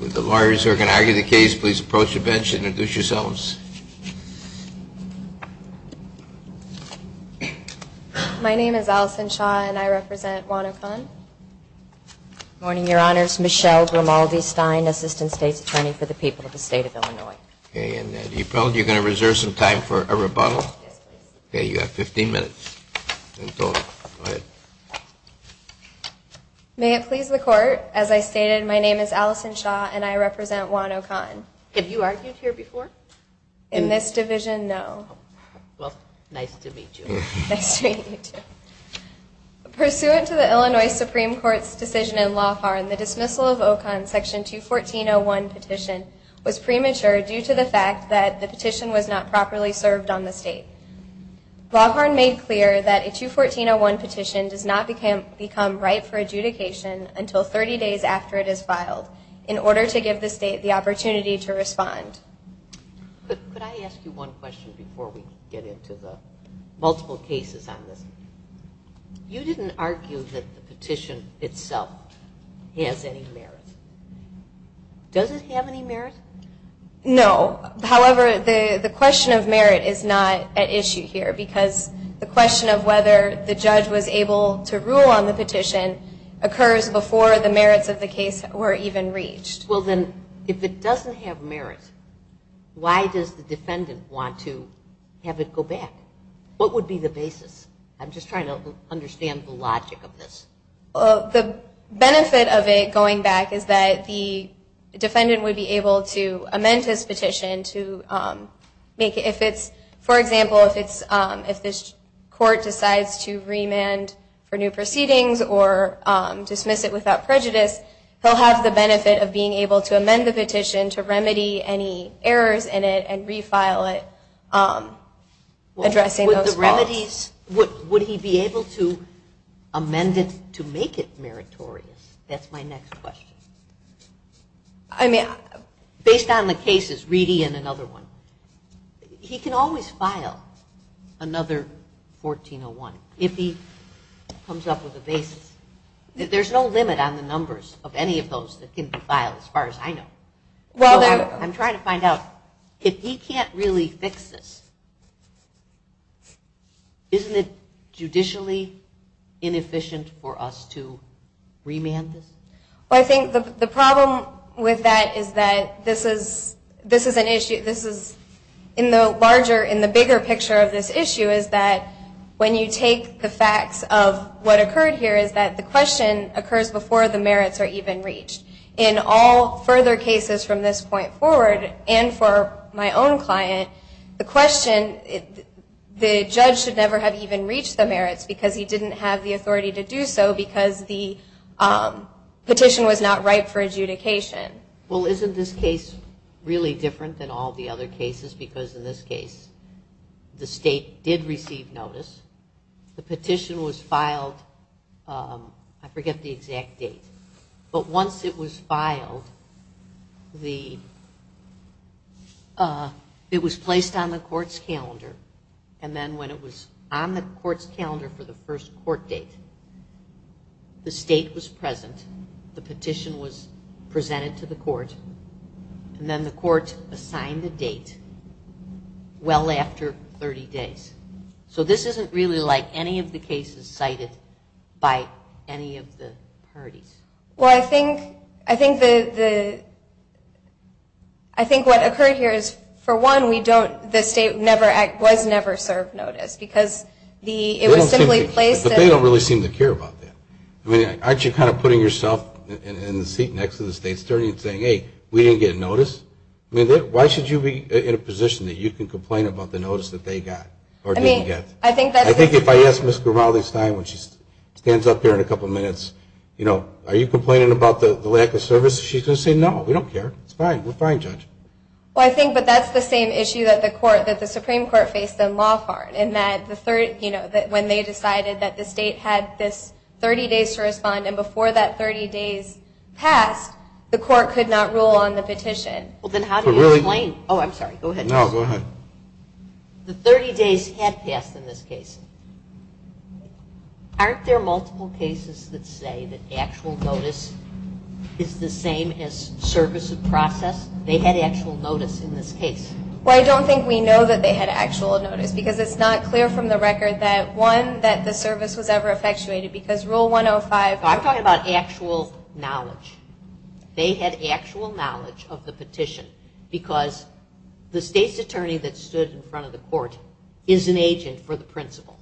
With the lawyers who are going to argue the case, please approach the bench and introduce yourselves. My name is Allison Shaw and I represent Juan Ocon. Good morning, Your Honors. Michelle Grimaldi Stein, Assistant State's Attorney for the people of the State of Illinois. Do you feel you're going to reserve some time for a rebuttal? Yes, please. You have 15 minutes in total. Go ahead. May it please the Court, as I stated, my name is Allison Shaw and I represent Juan Ocon. Have you argued here before? In this division, no. Nice to meet you, too. Pursuant to the Illinois Supreme Court's decision in Laugharn, the dismissal of Ocon's Section 214.01 petition was premature due to the fact that the petition was not properly served on the State. Laugharn made clear that a 214.01 petition does not become right for adjudication until 30 days after it is filed in order to give the State the opportunity to respond. Could I ask you one question before we get into the multiple cases on this? You didn't argue that the petition itself has any merit. Does it have any merit? No. However, the question of merit is not at issue here because the question of whether the judge was able to rule on the petition occurs before the merits of the case were even reached. Well then, if it doesn't have merit, why does the defendant want to have it go back? What would be the basis? I'm just trying to understand the logic of this. The benefit of it going back is that the defendant would be able to amend his petition. For example, if the court decides to remand for new proceedings or dismiss it without prejudice, he'll have the benefit of being able to amend the petition to remedy any errors in it and refile it. Would he be able to amend it to make it meritorious? That's my next question. Based on the cases, Reedy and another one, he can always file another 1401 if he comes up with a basis. There's no limit on the numbers of any of those that can be filed as far as I know. I'm trying to find out, if he can't really fix this, isn't it judicially inefficient for us to remand this? Well, I think the problem with that is that this is an issue, in the larger, in the bigger picture of this issue, is that when you take the facts of what occurred here, is that the question occurs before the merits are even reached. In all further cases from this point forward, and for my own client, the question, the judge should never have even reached the merits because he didn't have the authority to do so because the petition was not ripe for adjudication. Well, isn't this case really different than all the other cases because in this case, the state did receive notice, the petition was filed, I forget the exact date, but once it was filed, it was placed on the court's calendar, and then when it was on the court's calendar for the first court date, the state was present, the petition was presented to the court, and then the state was present. And then the court assigned the date well after 30 days. So this isn't really like any of the cases cited by any of the parties. Well, I think, I think the, I think what occurred here is, for one, we don't, the state never, was never served notice because the, it was simply placed. But they don't really seem to care about that. I mean, aren't you kind of putting yourself in the seat next to the state attorney and saying, hey, we didn't get notice? I mean, why should you be in a position that you can complain about the notice that they got or didn't get? I mean, I think that's. I think if I ask Ms. Grimaldi-Stein when she stands up here in a couple minutes, you know, are you complaining about the lack of service? She's going to say, no, we don't care. It's fine. We're fine, Judge. Well, I think, but that's the same issue that the court, that the Supreme Court faced in Lafarne in that the, you know, when they decided that the state had this 30 days to respond, and before that 30 days passed, the court could not rule on the petition. Well, then how do you explain. Oh, I'm sorry. Go ahead. No, go ahead. The 30 days had passed in this case. Aren't there multiple cases that say that actual notice is the same as service of process? They had actual notice in this case. Well, I don't think we know that they had actual notice because it's not clear from the record that, one, that the service was ever effectuated because Rule 105. I'm talking about actual knowledge. They had actual knowledge of the petition because the state's attorney that stood in front of the court is an agent for the principal,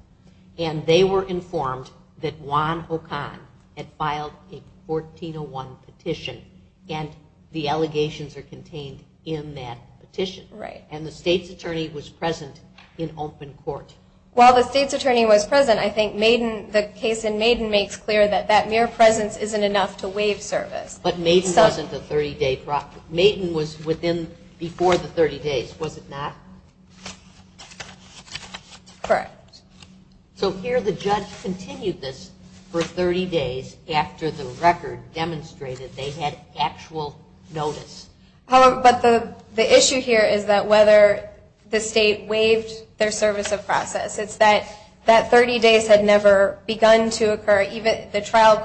and they were informed that Juan O'Connor had filed a 1401 petition, and the allegations are contained in that petition. Right. And the state's attorney was present in open court. Well, the state's attorney was present. I think Maiden, the case in Maiden makes clear that that mere presence isn't enough to waive service. But Maiden wasn't the 30-day process. Maiden was within, before the 30 days, was it not? Correct. So here the judge continued this for 30 days after the record demonstrated they had actual notice. However, but the issue here is that whether the state waived their service of process. It's that that 30 days had never begun to occur, even though the trial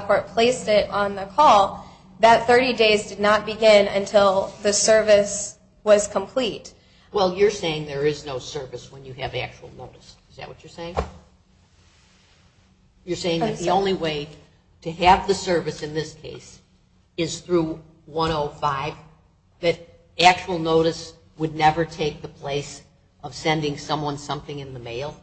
court placed it on the call, that 30 days did not begin until the service was complete. Well, you're saying there is no service when you have actual notice. Is that what you're saying? You're saying that the only way to have the service in this case is through 105, that actual notice would never take the place of sending someone something in the mail?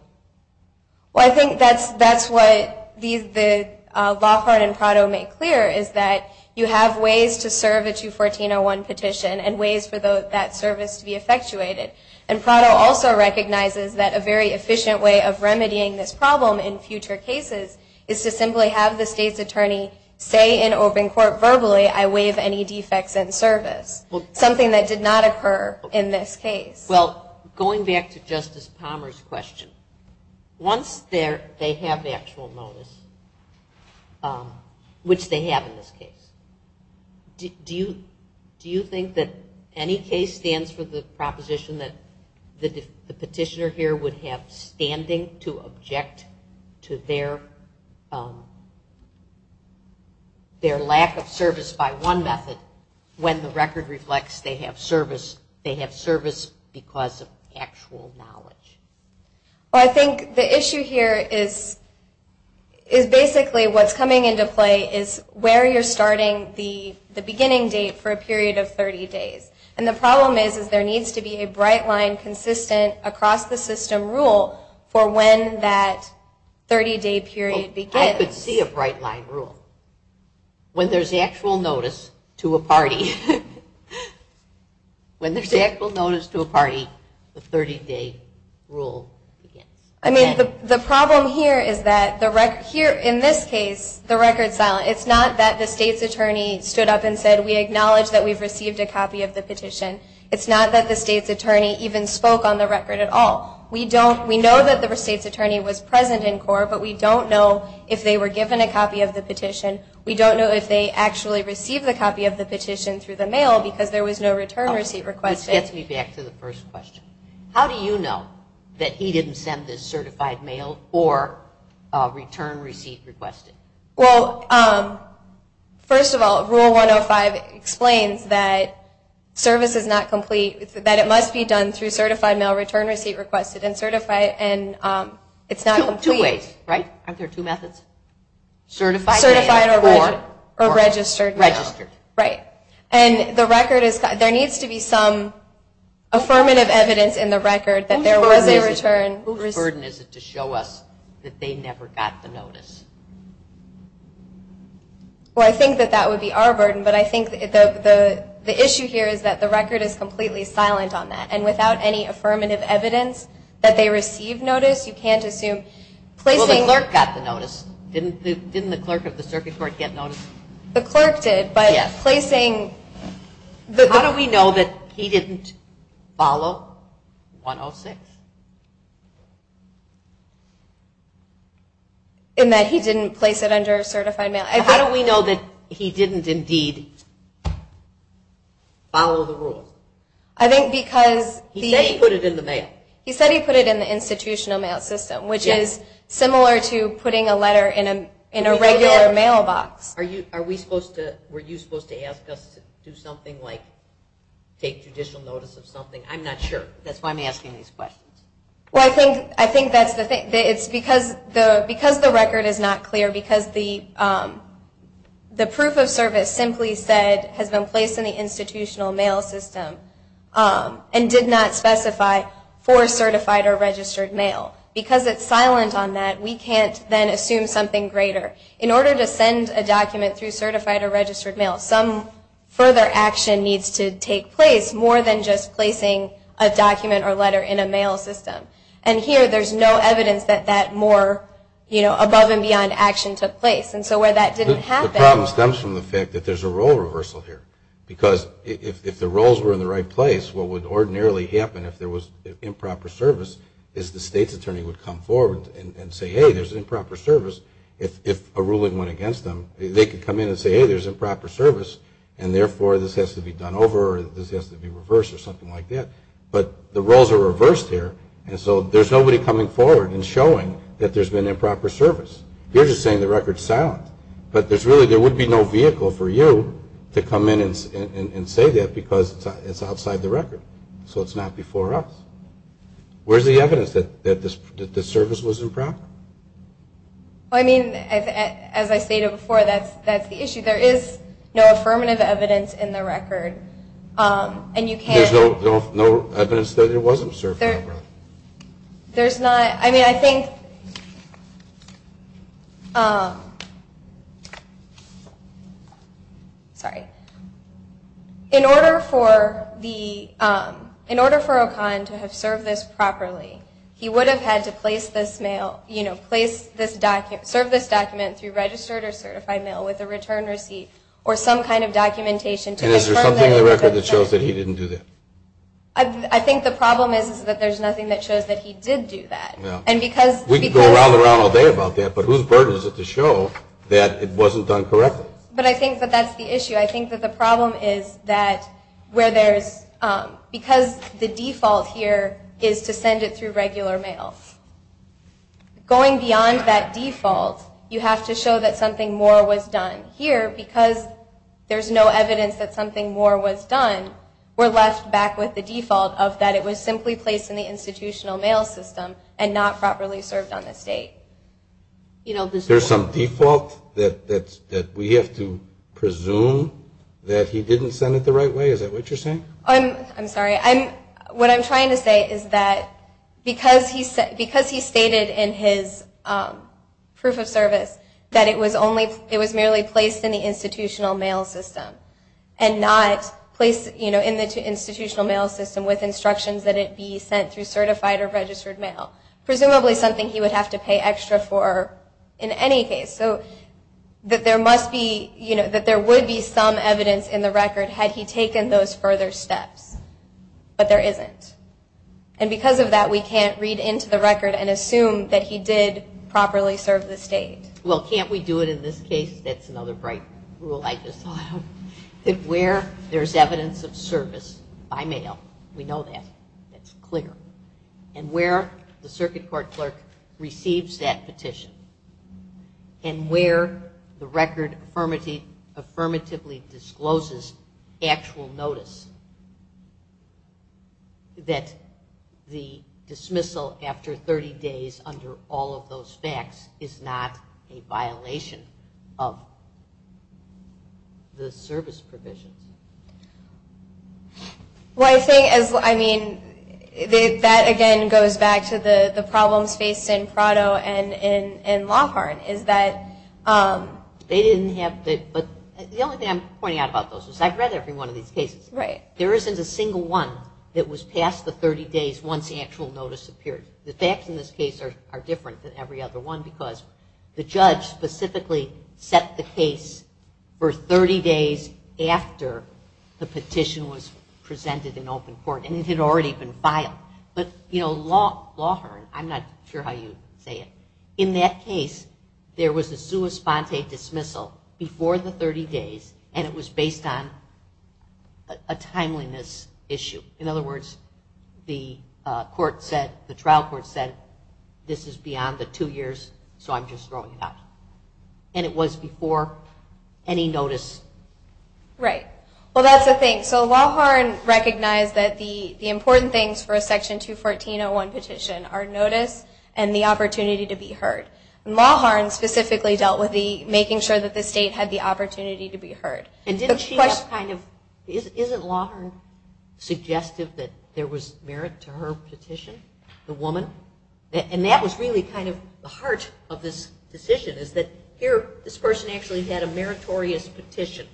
Well, I think that's what the law court in Prado made clear, is that you have ways to serve a 214.01 petition and ways for that service to be effectuated. And Prado also recognizes that a very efficient way of remedying this problem in future cases is to simply have the state's attorney say in open court verbally, I waive any defects in service, something that did not occur in this case. Well, going back to Justice Palmer's question, once they have actual notice, which they have in this case, do you think that any case stands for the proposition that the petitioner here would have standing to object to their lack of service by one method when the record reflects they have service because of actual knowledge? Well, I think the issue here is basically what's coming into play is where you're starting the beginning date for a period of 30 days. And the problem is there needs to be a bright line consistent across the system rule for when that 30-day period begins. I could see a bright line rule. When there's actual notice to a party, when there's actual notice to a party, the 30-day rule begins. I mean, the problem here is that in this case, the record's silent. It's not that the state's attorney stood up and said, we acknowledge that we've received a copy of the petition. It's not that the state's attorney even spoke on the record at all. We know that the state's attorney was present in court, but we don't know if they were given a copy of the petition. We don't know if they actually received a copy of the petition through the mail because there was no return receipt requested. This gets me back to the first question. How do you know that he didn't send this certified mail or return receipt requested? Well, first of all, Rule 105 explains that service is not complete, that it must be done through certified mail, return receipt requested, and certified, and it's not complete. Two ways, right? Aren't there two methods? Certified mail or registered mail? Registered. Right. And there needs to be some affirmative evidence in the record that there was a return receipt. Whose burden is it to show us that they never got the notice? Well, I think that that would be our burden, but I think the issue here is that the record is completely silent on that, and without any affirmative evidence that they received notice, you can't assume. Well, the clerk got the notice. Didn't the clerk of the circuit court get notice? The clerk did, but placing the... How do we know that he didn't follow 106? In that he didn't place it under certified mail. How do we know that he didn't indeed follow the rules? I think because... He said he put it in the mail. He said he put it in the institutional mail system, which is similar to putting a letter in a regular mailbox. Were you supposed to ask us to do something like take judicial notice of something? I'm not sure. That's why I'm asking these questions. Well, I think that's the thing. It's because the record is not clear, because the proof of service simply said has been placed in the institutional mail system and did not specify for certified or registered mail. Because it's silent on that, we can't then assume something greater. In order to send a document through certified or registered mail, some further action needs to take place, more than just placing a document or letter in a mail system. And here there's no evidence that that more above and beyond action took place. And so where that didn't happen... The problem stems from the fact that there's a role reversal here. Because if the roles were in the right place, what would ordinarily happen if there was improper service is the state's attorney would come forward and say, hey, there's improper service. If a ruling went against them, they could come in and say, hey, there's improper service, and therefore this has to be done over or this has to be reversed or something like that. But the roles are reversed here, and so there's nobody coming forward and showing that there's been improper service. You're just saying the record's silent. But there would be no vehicle for you to come in and say that because it's outside the record. So it's not before us. Where's the evidence that the service was improper? I mean, as I stated before, that's the issue. There is no affirmative evidence in the record. And you can't... There's no evidence that it wasn't served improperly. There's not. I mean, I think... Sorry. In order for Okan to have served this properly, he would have had to place this mail, you know, serve this document through registered or certified mail with a return receipt or some kind of documentation to confirm... And is there something in the record that shows that he didn't do that? I think the problem is that there's nothing that shows that he did do that. We could go around and around all day about that, but whose burden is it to show that it wasn't done correctly? But I think that that's the issue. I think that the problem is that where there's... Because the default here is to send it through regular mail. Going beyond that default, you have to show that something more was done. Here, because there's no evidence that something more was done, we're left back with the default of that it was simply placed in the institutional mail system and not properly served on this date. There's some default that we have to presume that he didn't send it the right way? Is that what you're saying? I'm sorry. What I'm trying to say is that because he stated in his proof of service that it was merely placed in the institutional mail system and not placed in the institutional mail system with instructions that it be sent through certified or registered mail, presumably something he would have to pay extra for in any case, so that there would be some evidence in the record had he taken those further steps, but there isn't. And because of that, we can't read into the record and assume that he did properly serve the state. Well, can't we do it in this case? That's another bright rule I just thought of. Where there's evidence of service by mail, we know that. That's clear. And where the circuit court clerk receives that petition and where the record affirmatively discloses actual notice that the dismissal after 30 days under all of those facts is not a violation of the service provisions. Well, I think, I mean, that again goes back to the problems faced in Prado and in Laughart, is that... They didn't have, but the only thing I'm pointing out about those is I've read every one of these cases. Right. There isn't a single one that was past the 30 days once the actual notice appeared. The facts in this case are different than every other one because the judge specifically set the case for 30 days after the petition was presented in open court, and it had already been filed. But Laughart, I'm not sure how you say it, in that case there was a sua sponte dismissal before the 30 days and it was based on a timeliness issue. In other words, the trial court said, this is beyond the two years, so I'm just throwing it out. And it was before any notice. Right. Well, that's the thing. So Laughart recognized that the important things for a Section 214.01 petition are notice and the opportunity to be heard. Laughart specifically dealt with making sure that the state had the opportunity to be heard. And didn't she kind of... Isn't Laughart suggestive that there was merit to her petition, the woman? And that was really kind of the heart of this decision, is that here this person actually had a meritorious petition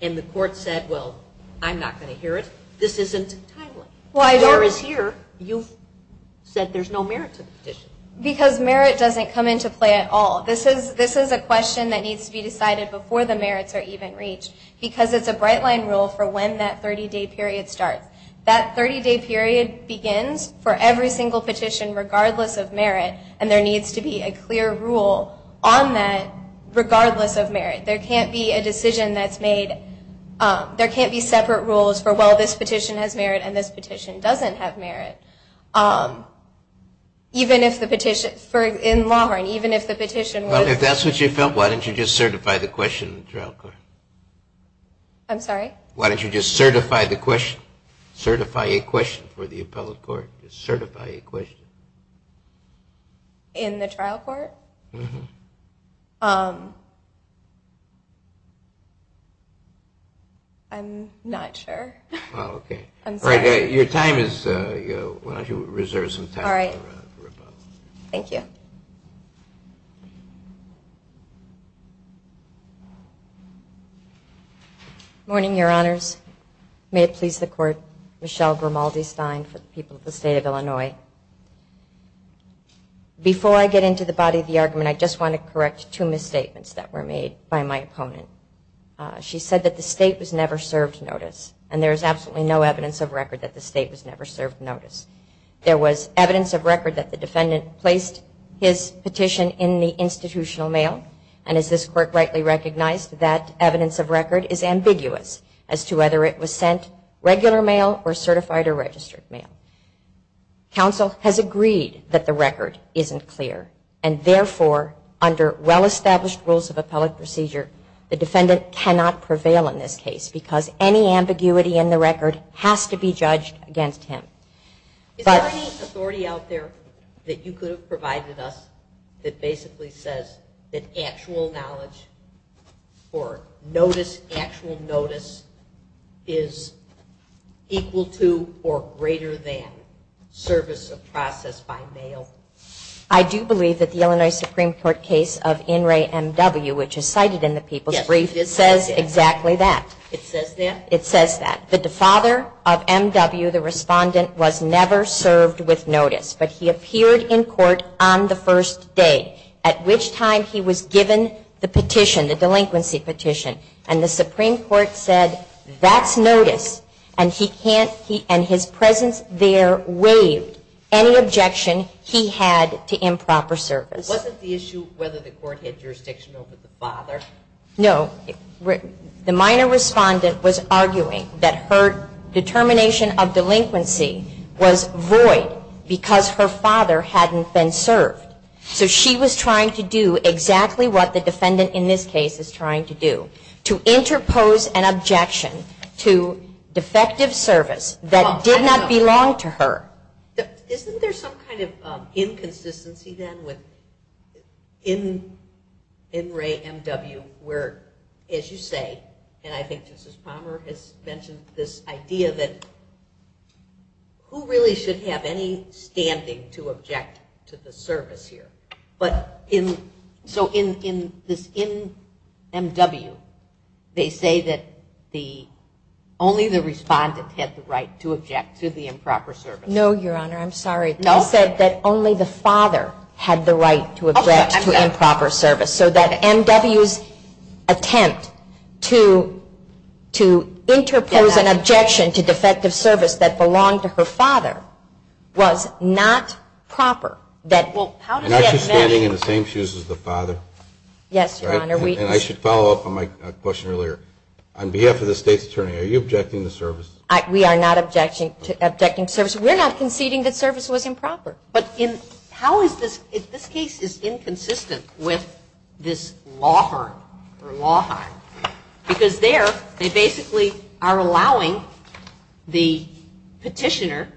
and the court said, well, I'm not going to hear it. This isn't timely. Whereas here you've said there's no merit to the petition. Because merit doesn't come into play at all. This is a question that needs to be decided before the merits are even reached because it's a bright line rule for when that 30-day period starts. That 30-day period begins for every single petition regardless of merit, and there needs to be a clear rule on that regardless of merit. There can't be a decision that's made. There can't be separate rules for, well, this petition has merit and this petition doesn't have merit. Even if the petition, in Laughart, even if the petition was... Well, if that's what you felt, why didn't you just certify the question? I'm sorry? Why didn't you just certify the question? Certify a question for the appellate court. Certify a question. In the trial court? Mm-hmm. I'm not sure. Oh, okay. I'm sorry. All right. Your time is, why don't you reserve some time for the rebuttal. All right. Thank you. Good morning, Your Honors. May it please the Court. Michelle Grimaldi-Stein for the people of the State of Illinois. Before I get into the body of the argument, I just want to correct two misstatements that were made by my opponent. She said that the State was never served notice, and there is absolutely no evidence of record that the State was never served notice. There was evidence of record that the defendant placed his petition in the institutional mail, and as this Court rightly recognized, that evidence of record is ambiguous as to whether it was sent regular mail or certified or registered mail. Counsel has agreed that the record isn't clear, and therefore under well-established rules of appellate procedure, the defendant cannot prevail in this case because any ambiguity in the record has to be judged against him. Is there any authority out there that you could have provided us that basically says that actual knowledge or notice, actual notice, is equal to or greater than service of process by mail? I do believe that the Illinois Supreme Court case of In re M.W., which is cited in the people's brief, says exactly that. It says that? It says that. The father of M.W., the respondent, was never served with notice, but he appeared in court on the first day, at which time he was given the petition, the delinquency petition, and the Supreme Court said, that's notice, and he can't, and his presence there waived any objection he had to improper service. Wasn't the issue whether the court had jurisdiction over the father? No. The minor respondent was arguing that her determination of delinquency was void because her father hadn't been served. So she was trying to do exactly what the defendant in this case is trying to do, to interpose an objection to defective service that did not belong to her. Isn't there some kind of inconsistency then with In re M.W., where, as you say, and I think Justice Palmer has mentioned this idea, that who really should have any standing to object to the service here? So in this In M.W., they say that only the respondent had the right to object to the improper service. No, Your Honor, I'm sorry. No? They said that only the father had the right to object to improper service. So that M.W.'s attempt to interpose an objection to defective service that belonged to her father was not proper. Well, how does that matter? Am I standing in the same shoes as the father? Yes, Your Honor. And I should follow up on my question earlier. On behalf of the State's Attorney, are you objecting to service? We are not objecting to service. We're not conceding that service was improper. But how is this? This case is inconsistent with this law firm or law firm because there they basically are allowing the petitioner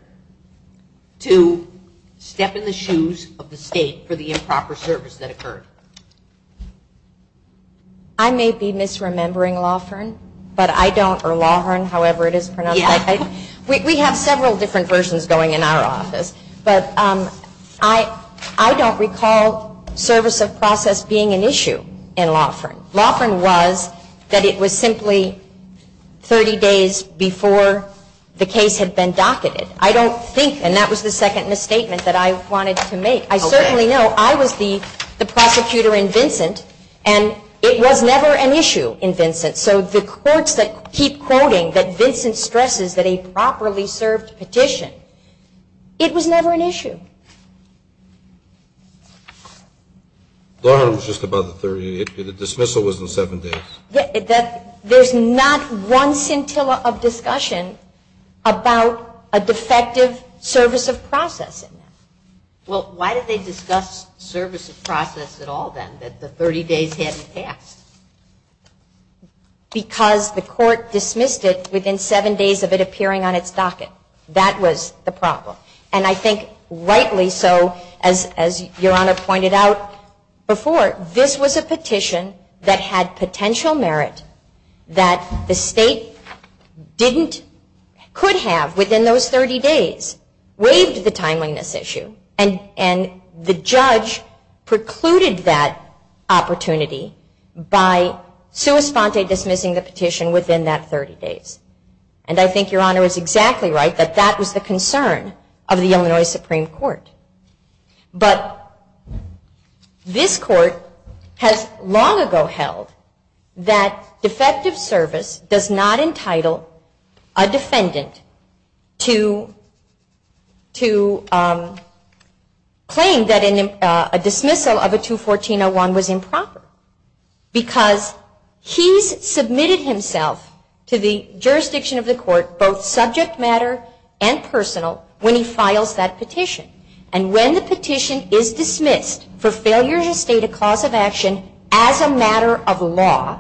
to step in the shoes of the State for the improper service that occurred. I may be misremembering law firm, but I don't, or law firm, however it is pronounced. We have several different versions going in our office. But I don't recall service of process being an issue in law firm. Law firm was that it was simply 30 days before the case had been docketed. I don't think, and that was the second misstatement that I wanted to make. I certainly know I was the prosecutor in Vincent, and it was never an issue in Vincent. So the courts that keep quoting that Vincent stresses that a properly served petition, it was never an issue. Law firm was just above the 30. The dismissal was in seven days. There's not one scintilla of discussion about a defective service of process. Well, why did they discuss service of process at all then, that the 30 days hadn't passed? Because the court dismissed it within seven days of it appearing on its docket. That was the problem. And I think rightly so, as Your Honor pointed out before, this was a petition that had potential merit that the State didn't, could have within those 30 days waived the timeliness issue, and the judge precluded that opportunity by sua sponte dismissing the petition within that 30 days. And I think Your Honor is exactly right that that was the concern of the Illinois Supreme Court. But this court has long ago held that defective service does not entitle a defendant to claim that a dismissal of a 214-01 was improper. Because he's submitted himself to the jurisdiction of the court, both subject matter and personal, when he files that petition. And when the petition is dismissed for failure to state a cause of action as a matter of law,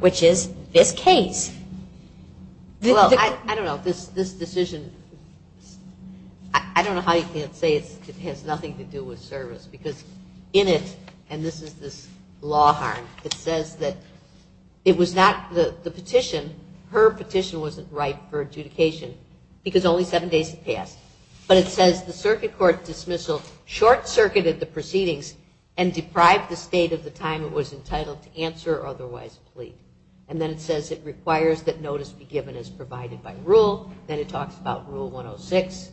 which is this case. Well, I don't know. This decision, I don't know how you can't say it has nothing to do with service. Because in it, and this is this law harm, it says that it was not the petition, her petition wasn't right for adjudication because only seven days had passed. But it says the circuit court dismissal short-circuited the proceedings and deprived the State of the time it was entitled to answer or otherwise plea. And then it says it requires that notice be given as provided by rule. Then it talks about Rule 106.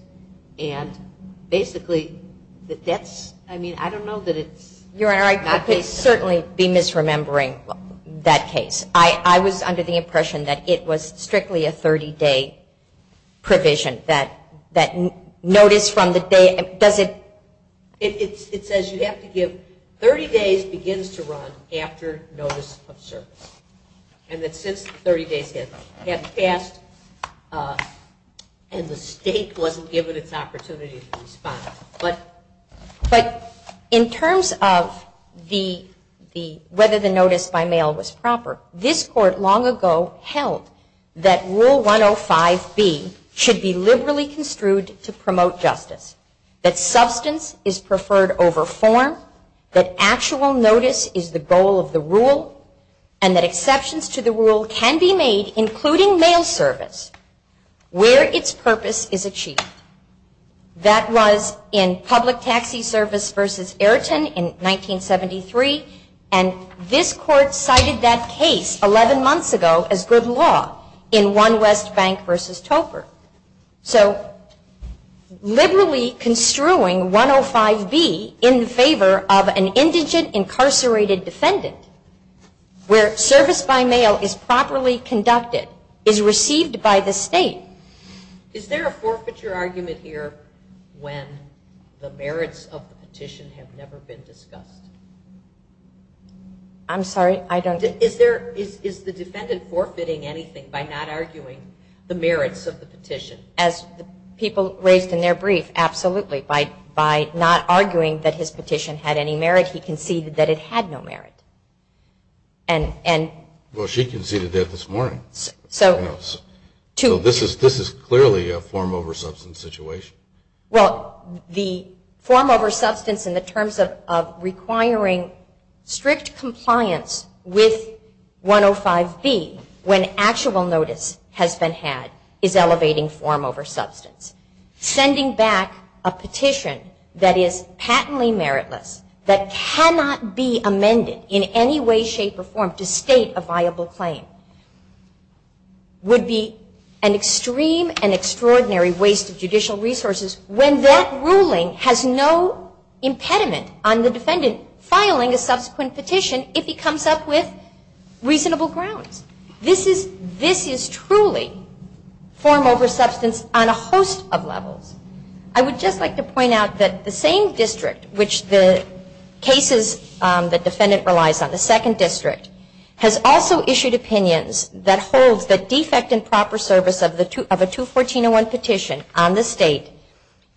And basically, that's, I mean, I don't know that it's not the case. Your Honor, I could certainly be misremembering that case. I was under the impression that it was strictly a 30-day provision. That notice from the day, does it? It says you have to give, 30 days begins to run after notice of service. And that since 30 days had passed and the State wasn't given its opportunity to respond. But in terms of whether the notice by mail was proper, this Court long ago held that Rule 105B should be liberally construed to promote justice. That substance is preferred over form. That actual notice is the goal of the rule. And that exceptions to the rule can be made, including mail service, where its purpose is achieved. That was in Public Taxi Service v. Ayrton in 1973. And this Court cited that case 11 months ago as good law in One West Bank v. Toper. So liberally construing 105B in favor of an indigent, incarcerated defendant, where service by mail is properly conducted, is received by the State. Is there a forfeiture argument here when the merits of the petition have never been discussed? I'm sorry, I don't... Is the defendant forfeiting anything by not arguing the merits of the petition? As people raised in their brief, absolutely. By not arguing that his petition had any merit, he conceded that it had no merit. Well, she conceded that this morning. So this is clearly a form over substance situation. Well, the form over substance in the terms of requiring strict compliance with 105B when actual notice has been had is elevating form over substance. Sending back a petition that is patently meritless, that cannot be amended in any way, shape, or form to state a viable claim. Would be an extreme and extraordinary waste of judicial resources when that ruling has no impediment on the defendant filing a subsequent petition if he comes up with reasonable grounds. This is truly form over substance on a host of levels. I would just like to point out that the same district, which the cases the defendant relies on, the second district, has also issued opinions that holds the defect in proper service of a 214.01 petition on the state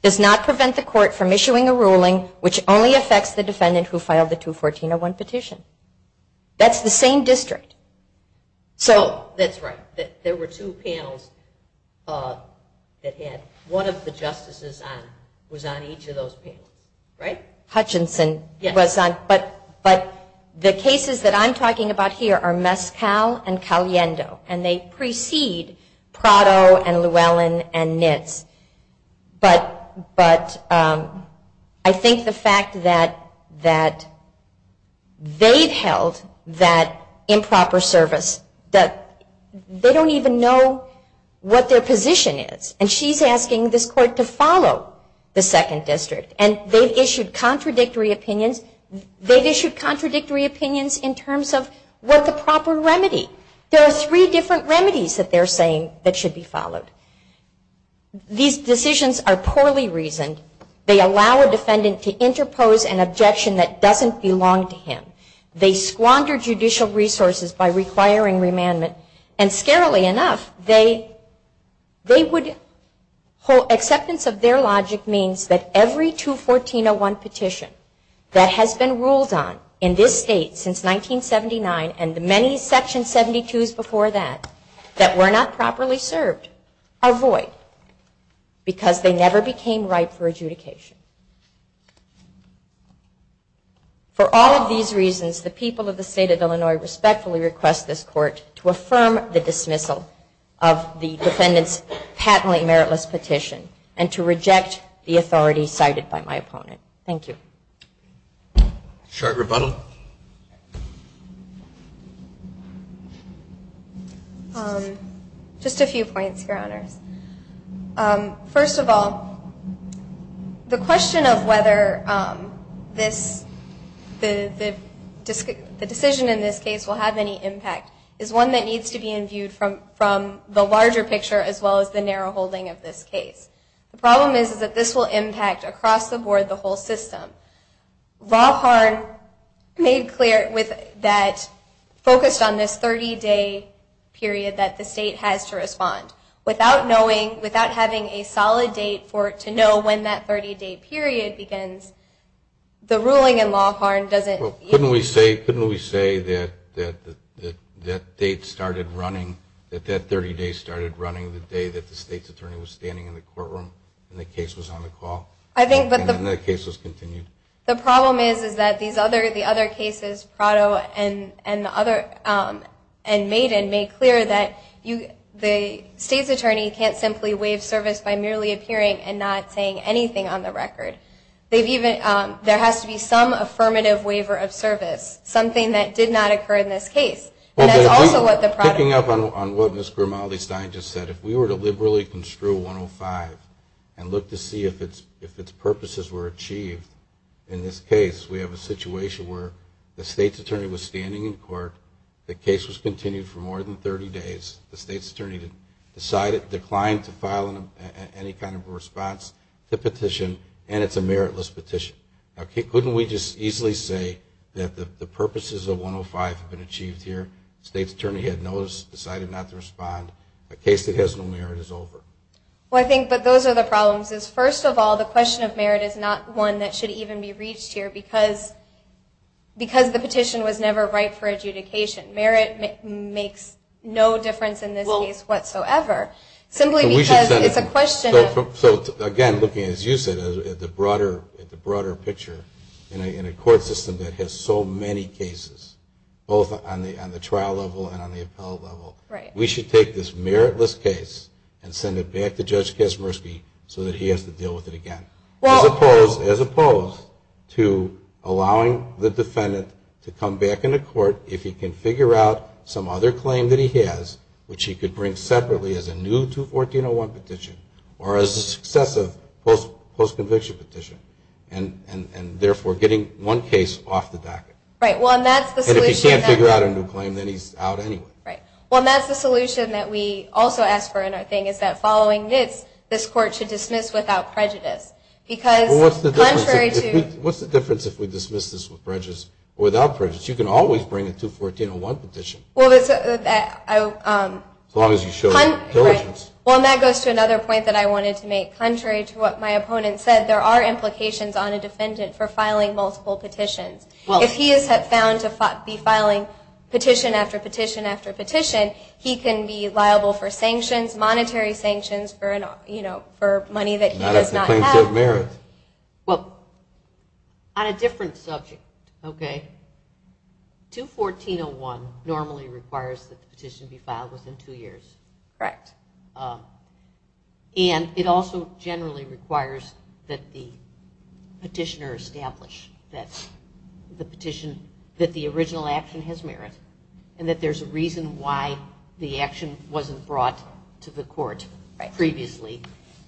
does not prevent the court from issuing a ruling which only affects the defendant who filed the 214.01 petition. That's the same district. Oh, that's right. There were two panels that had one of the justices was on each of those panels, right? Hutchinson was on. But the cases that I'm talking about here are Mescal and Caliendo, and they precede Prado and Llewellyn and Nitz. But I think the fact that they've held that improper service, that they don't even know what their position is, and she's asking this court to follow the second district. And they've issued contradictory opinions. They've issued contradictory opinions in terms of what the proper remedy. There are three different remedies that they're saying that should be followed. These decisions are poorly reasoned. They allow a defendant to interpose an objection that doesn't belong to him. They squander judicial resources by requiring remandment. And scarily enough, acceptance of their logic means that every 214.01 petition that has been ruled on in this state since 1979 and the many Section 72s before that that were not properly served are void because they never became right for adjudication. For all of these reasons, the people of the state of Illinois respectfully request this court to affirm the dismissal of the defendant's patently meritless petition and to reject the authority cited by my opponent. Thank you. Short rebuttal. Just a few points, Your Honors. First of all, the question of whether the decision in this case will have any impact is one that needs to be imbued from the larger picture as well as the narrow holding of this case. The problem is that this will impact across the board the whole system. Lawhorn made clear that focused on this 30-day period that the state has to respond. Without knowing, without having a solid date for it to know when that 30-day period begins, the ruling in Lawhorn doesn't. Couldn't we say that that date started running, that that 30-day started running the day that the state's attorney was standing in the courtroom and the case was on the call and then the case was continued? The problem is that the other cases, Prado and Maiden, made clear that the state's attorney can't simply waive service by merely appearing and not saying anything on the record. There has to be some affirmative waiver of service, something that did not occur in this case. Picking up on what Ms. Grimaldi-Stein just said, if we were to liberally construe 105 and look to see if its purposes were achieved in this case, we have a situation where the state's attorney was standing in court, the case was continued for more than 30 days, the state's attorney declined to file any kind of response to the petition, and it's a meritless petition. Couldn't we just easily say that the purposes of 105 have been achieved here, the state's attorney had noticed, decided not to respond, a case that has no merit is over? I think those are the problems. First of all, the question of merit is not one that should even be reached here because the petition was never right for adjudication. Merit makes no difference in this case whatsoever. Simply because it's a question of... Again, looking, as you said, at the broader picture, in a court system that has so many cases, both on the trial level and on the appellate level, we should take this meritless case and send it back to Judge Kasmersky so that he has to deal with it again, as opposed to allowing the defendant to come back into court if he can figure out some other claim that he has, which he could bring separately as a new 214.01 petition, or as a successive post-conviction petition, and therefore getting one case off the docket. And if he can't figure out a new claim, then he's out anyway. Well, that's the solution that we also ask for in our thing, is that following this, this court should dismiss without prejudice. What's the difference if we dismiss this without prejudice? You can always bring a 214.01 petition, as long as you show diligence. Well, and that goes to another point that I wanted to make. Contrary to what my opponent said, there are implications on a defendant for filing multiple petitions. If he is found to be filing petition after petition after petition, he can be liable for sanctions, monetary sanctions, for money that he does not have. Not at the claims of merit. Well, on a different subject, okay, 214.01 normally requires that the petition be filed within two years. Correct. And it also generally requires that the petitioner establish that the petition, that the original action has merit, and that there's a reason why the action wasn't brought to the court previously.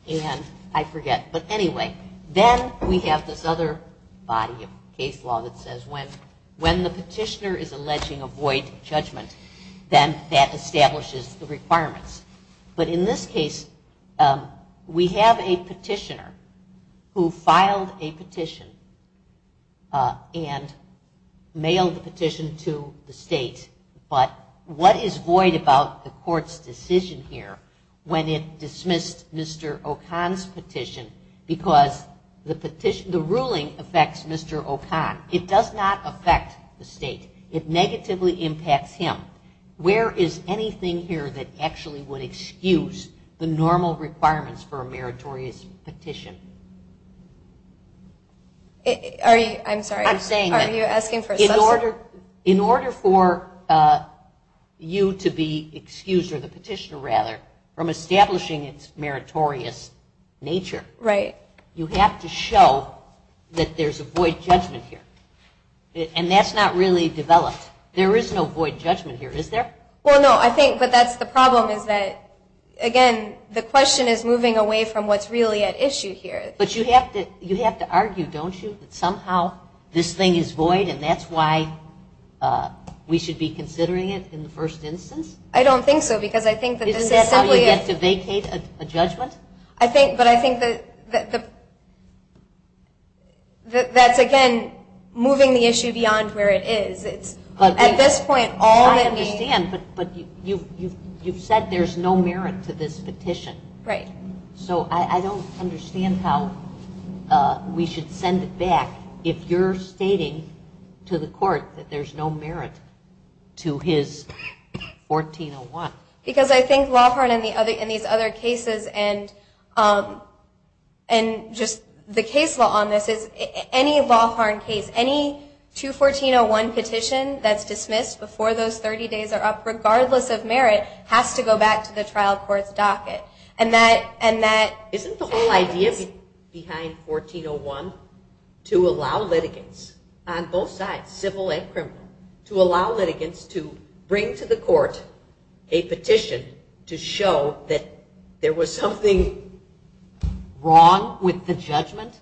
And I forget. But anyway, then we have this other body of case law that says when the petitioner is alleging a void judgment, then that establishes the requirements. But in this case, we have a petitioner who filed a petition and mailed the petition to the state. But what is void about the court's decision here when it dismissed Mr. O'Connor's petition? Because the ruling affects Mr. O'Connor. It does not affect the state. It negatively impacts him. Where is anything here that actually would excuse the normal requirements for a meritorious petition? I'm sorry. I'm saying that. Are you asking for a substantial? In order for you to be excused, or the petitioner rather, from establishing its meritorious nature, you have to show that there's a void judgment here. And that's not really developed. There is no void judgment here, is there? Well, no. I think that that's the problem is that, again, the question is moving away from what's really at issue here. But you have to argue, don't you, that somehow this thing is void and that's why we should be considering it in the first instance? I don't think so. Isn't that how you get to vacate a judgment? But I think that that's, again, moving the issue beyond where it is. At this point, all that needs to be done. I understand, but you've said there's no merit to this petition. Right. So I don't understand how we should send it back. If you're stating to the court that there's no merit to his 1401. Because I think, Lawhorn, in these other cases, and just the case law on this is any Lawhorn case, any 214-01 petition that's dismissed before those 30 days are up, regardless of merit, has to go back to the trial court's docket. Isn't the whole idea behind 1401 to allow litigants on both sides, civil and criminal, to allow litigants to bring to the court a petition to show that there was something wrong with the judgment?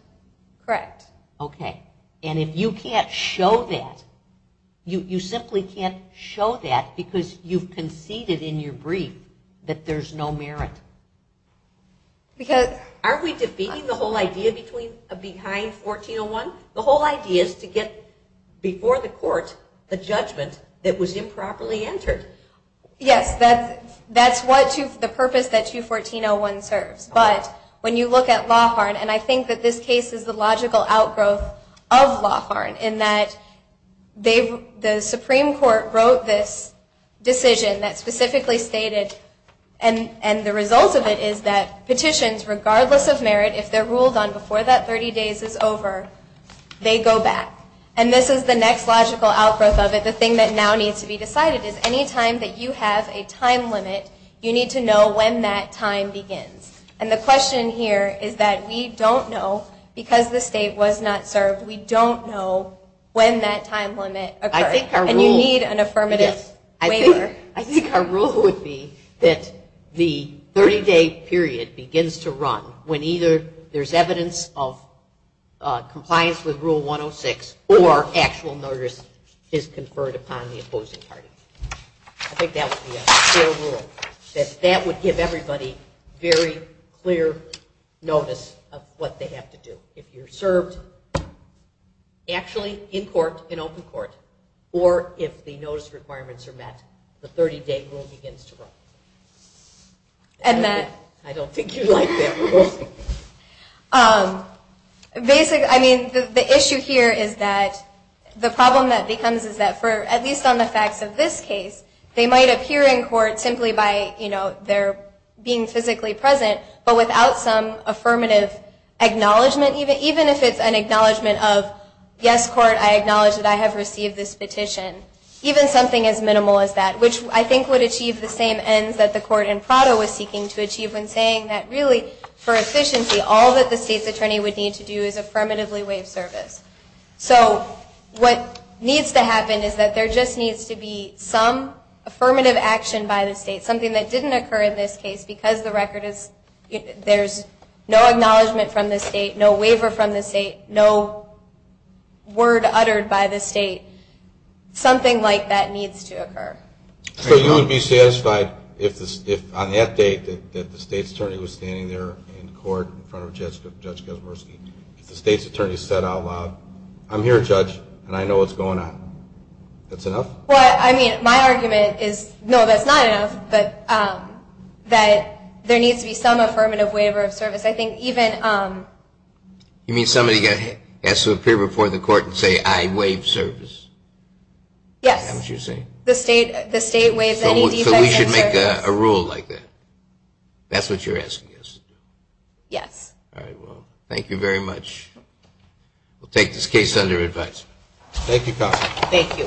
Correct. Okay. And if you can't show that, you simply can't show that because you've conceded in your brief that there's no merit. Aren't we defeating the whole idea behind 1401? The whole idea is to get, before the court, the judgment that was improperly entered. Yes, that's the purpose that 214-01 serves. But when you look at Lawhorn, and I think that this case is the logical outgrowth of Lawhorn, in that the Supreme Court wrote this decision that specifically stated, and the result of it is that petitions, regardless of merit, if they're ruled on before that 30 days is over, they go back. And this is the next logical outgrowth of it. The thing that now needs to be decided is, any time that you have a time limit, you need to know when that time begins. And the question here is that we don't know, because the state was not served, we don't know when that time limit occurred. And you need an affirmative waiver. I think our rule would be that the 30-day period begins to run when either there's evidence of compliance with Rule 106, or actual notice is conferred upon the opposing party. I think that would be a fair rule, that that would give everybody very clear notice of what they have to do. If you're served actually in court, in open court, or if the notice requirements are met, the 30-day rule begins to run. I don't think you'd like that rule. The issue here is that the problem that becomes is that, at least on the facts of this case, they might appear in court simply by their being physically present, but without some affirmative acknowledgment, even if it's an acknowledgment of, yes, court, I acknowledge that I have received this petition, even something as minimal as that, which I think would achieve the same ends that the court in Prado was seeking to achieve when saying that really, for efficiency, all that the state's attorney would need to do is affirmatively waive service. So what needs to happen is that there just needs to be some affirmative action by the state, something that didn't occur in this case, because the record is there's no acknowledgment from the state, no waiver from the state, no word uttered by the state. Something like that needs to occur. So you would be satisfied if, on that date, that the state's attorney was standing there in court in front of Judge Kosmorski, if the state's attorney said out loud, I'm here, Judge, and I know what's going on. That's enough? Well, I mean, my argument is, no, that's not enough, but that there needs to be some affirmative waiver of service. You mean somebody has to appear before the court and say, I waive service? Yes. That's what you're saying? The state waives any defects in service. So we should make a rule like that? That's what you're asking us to do? Yes. All right, well, thank you very much. We'll take this case under advisement. Thank you, counsel. Thank you. Thank you.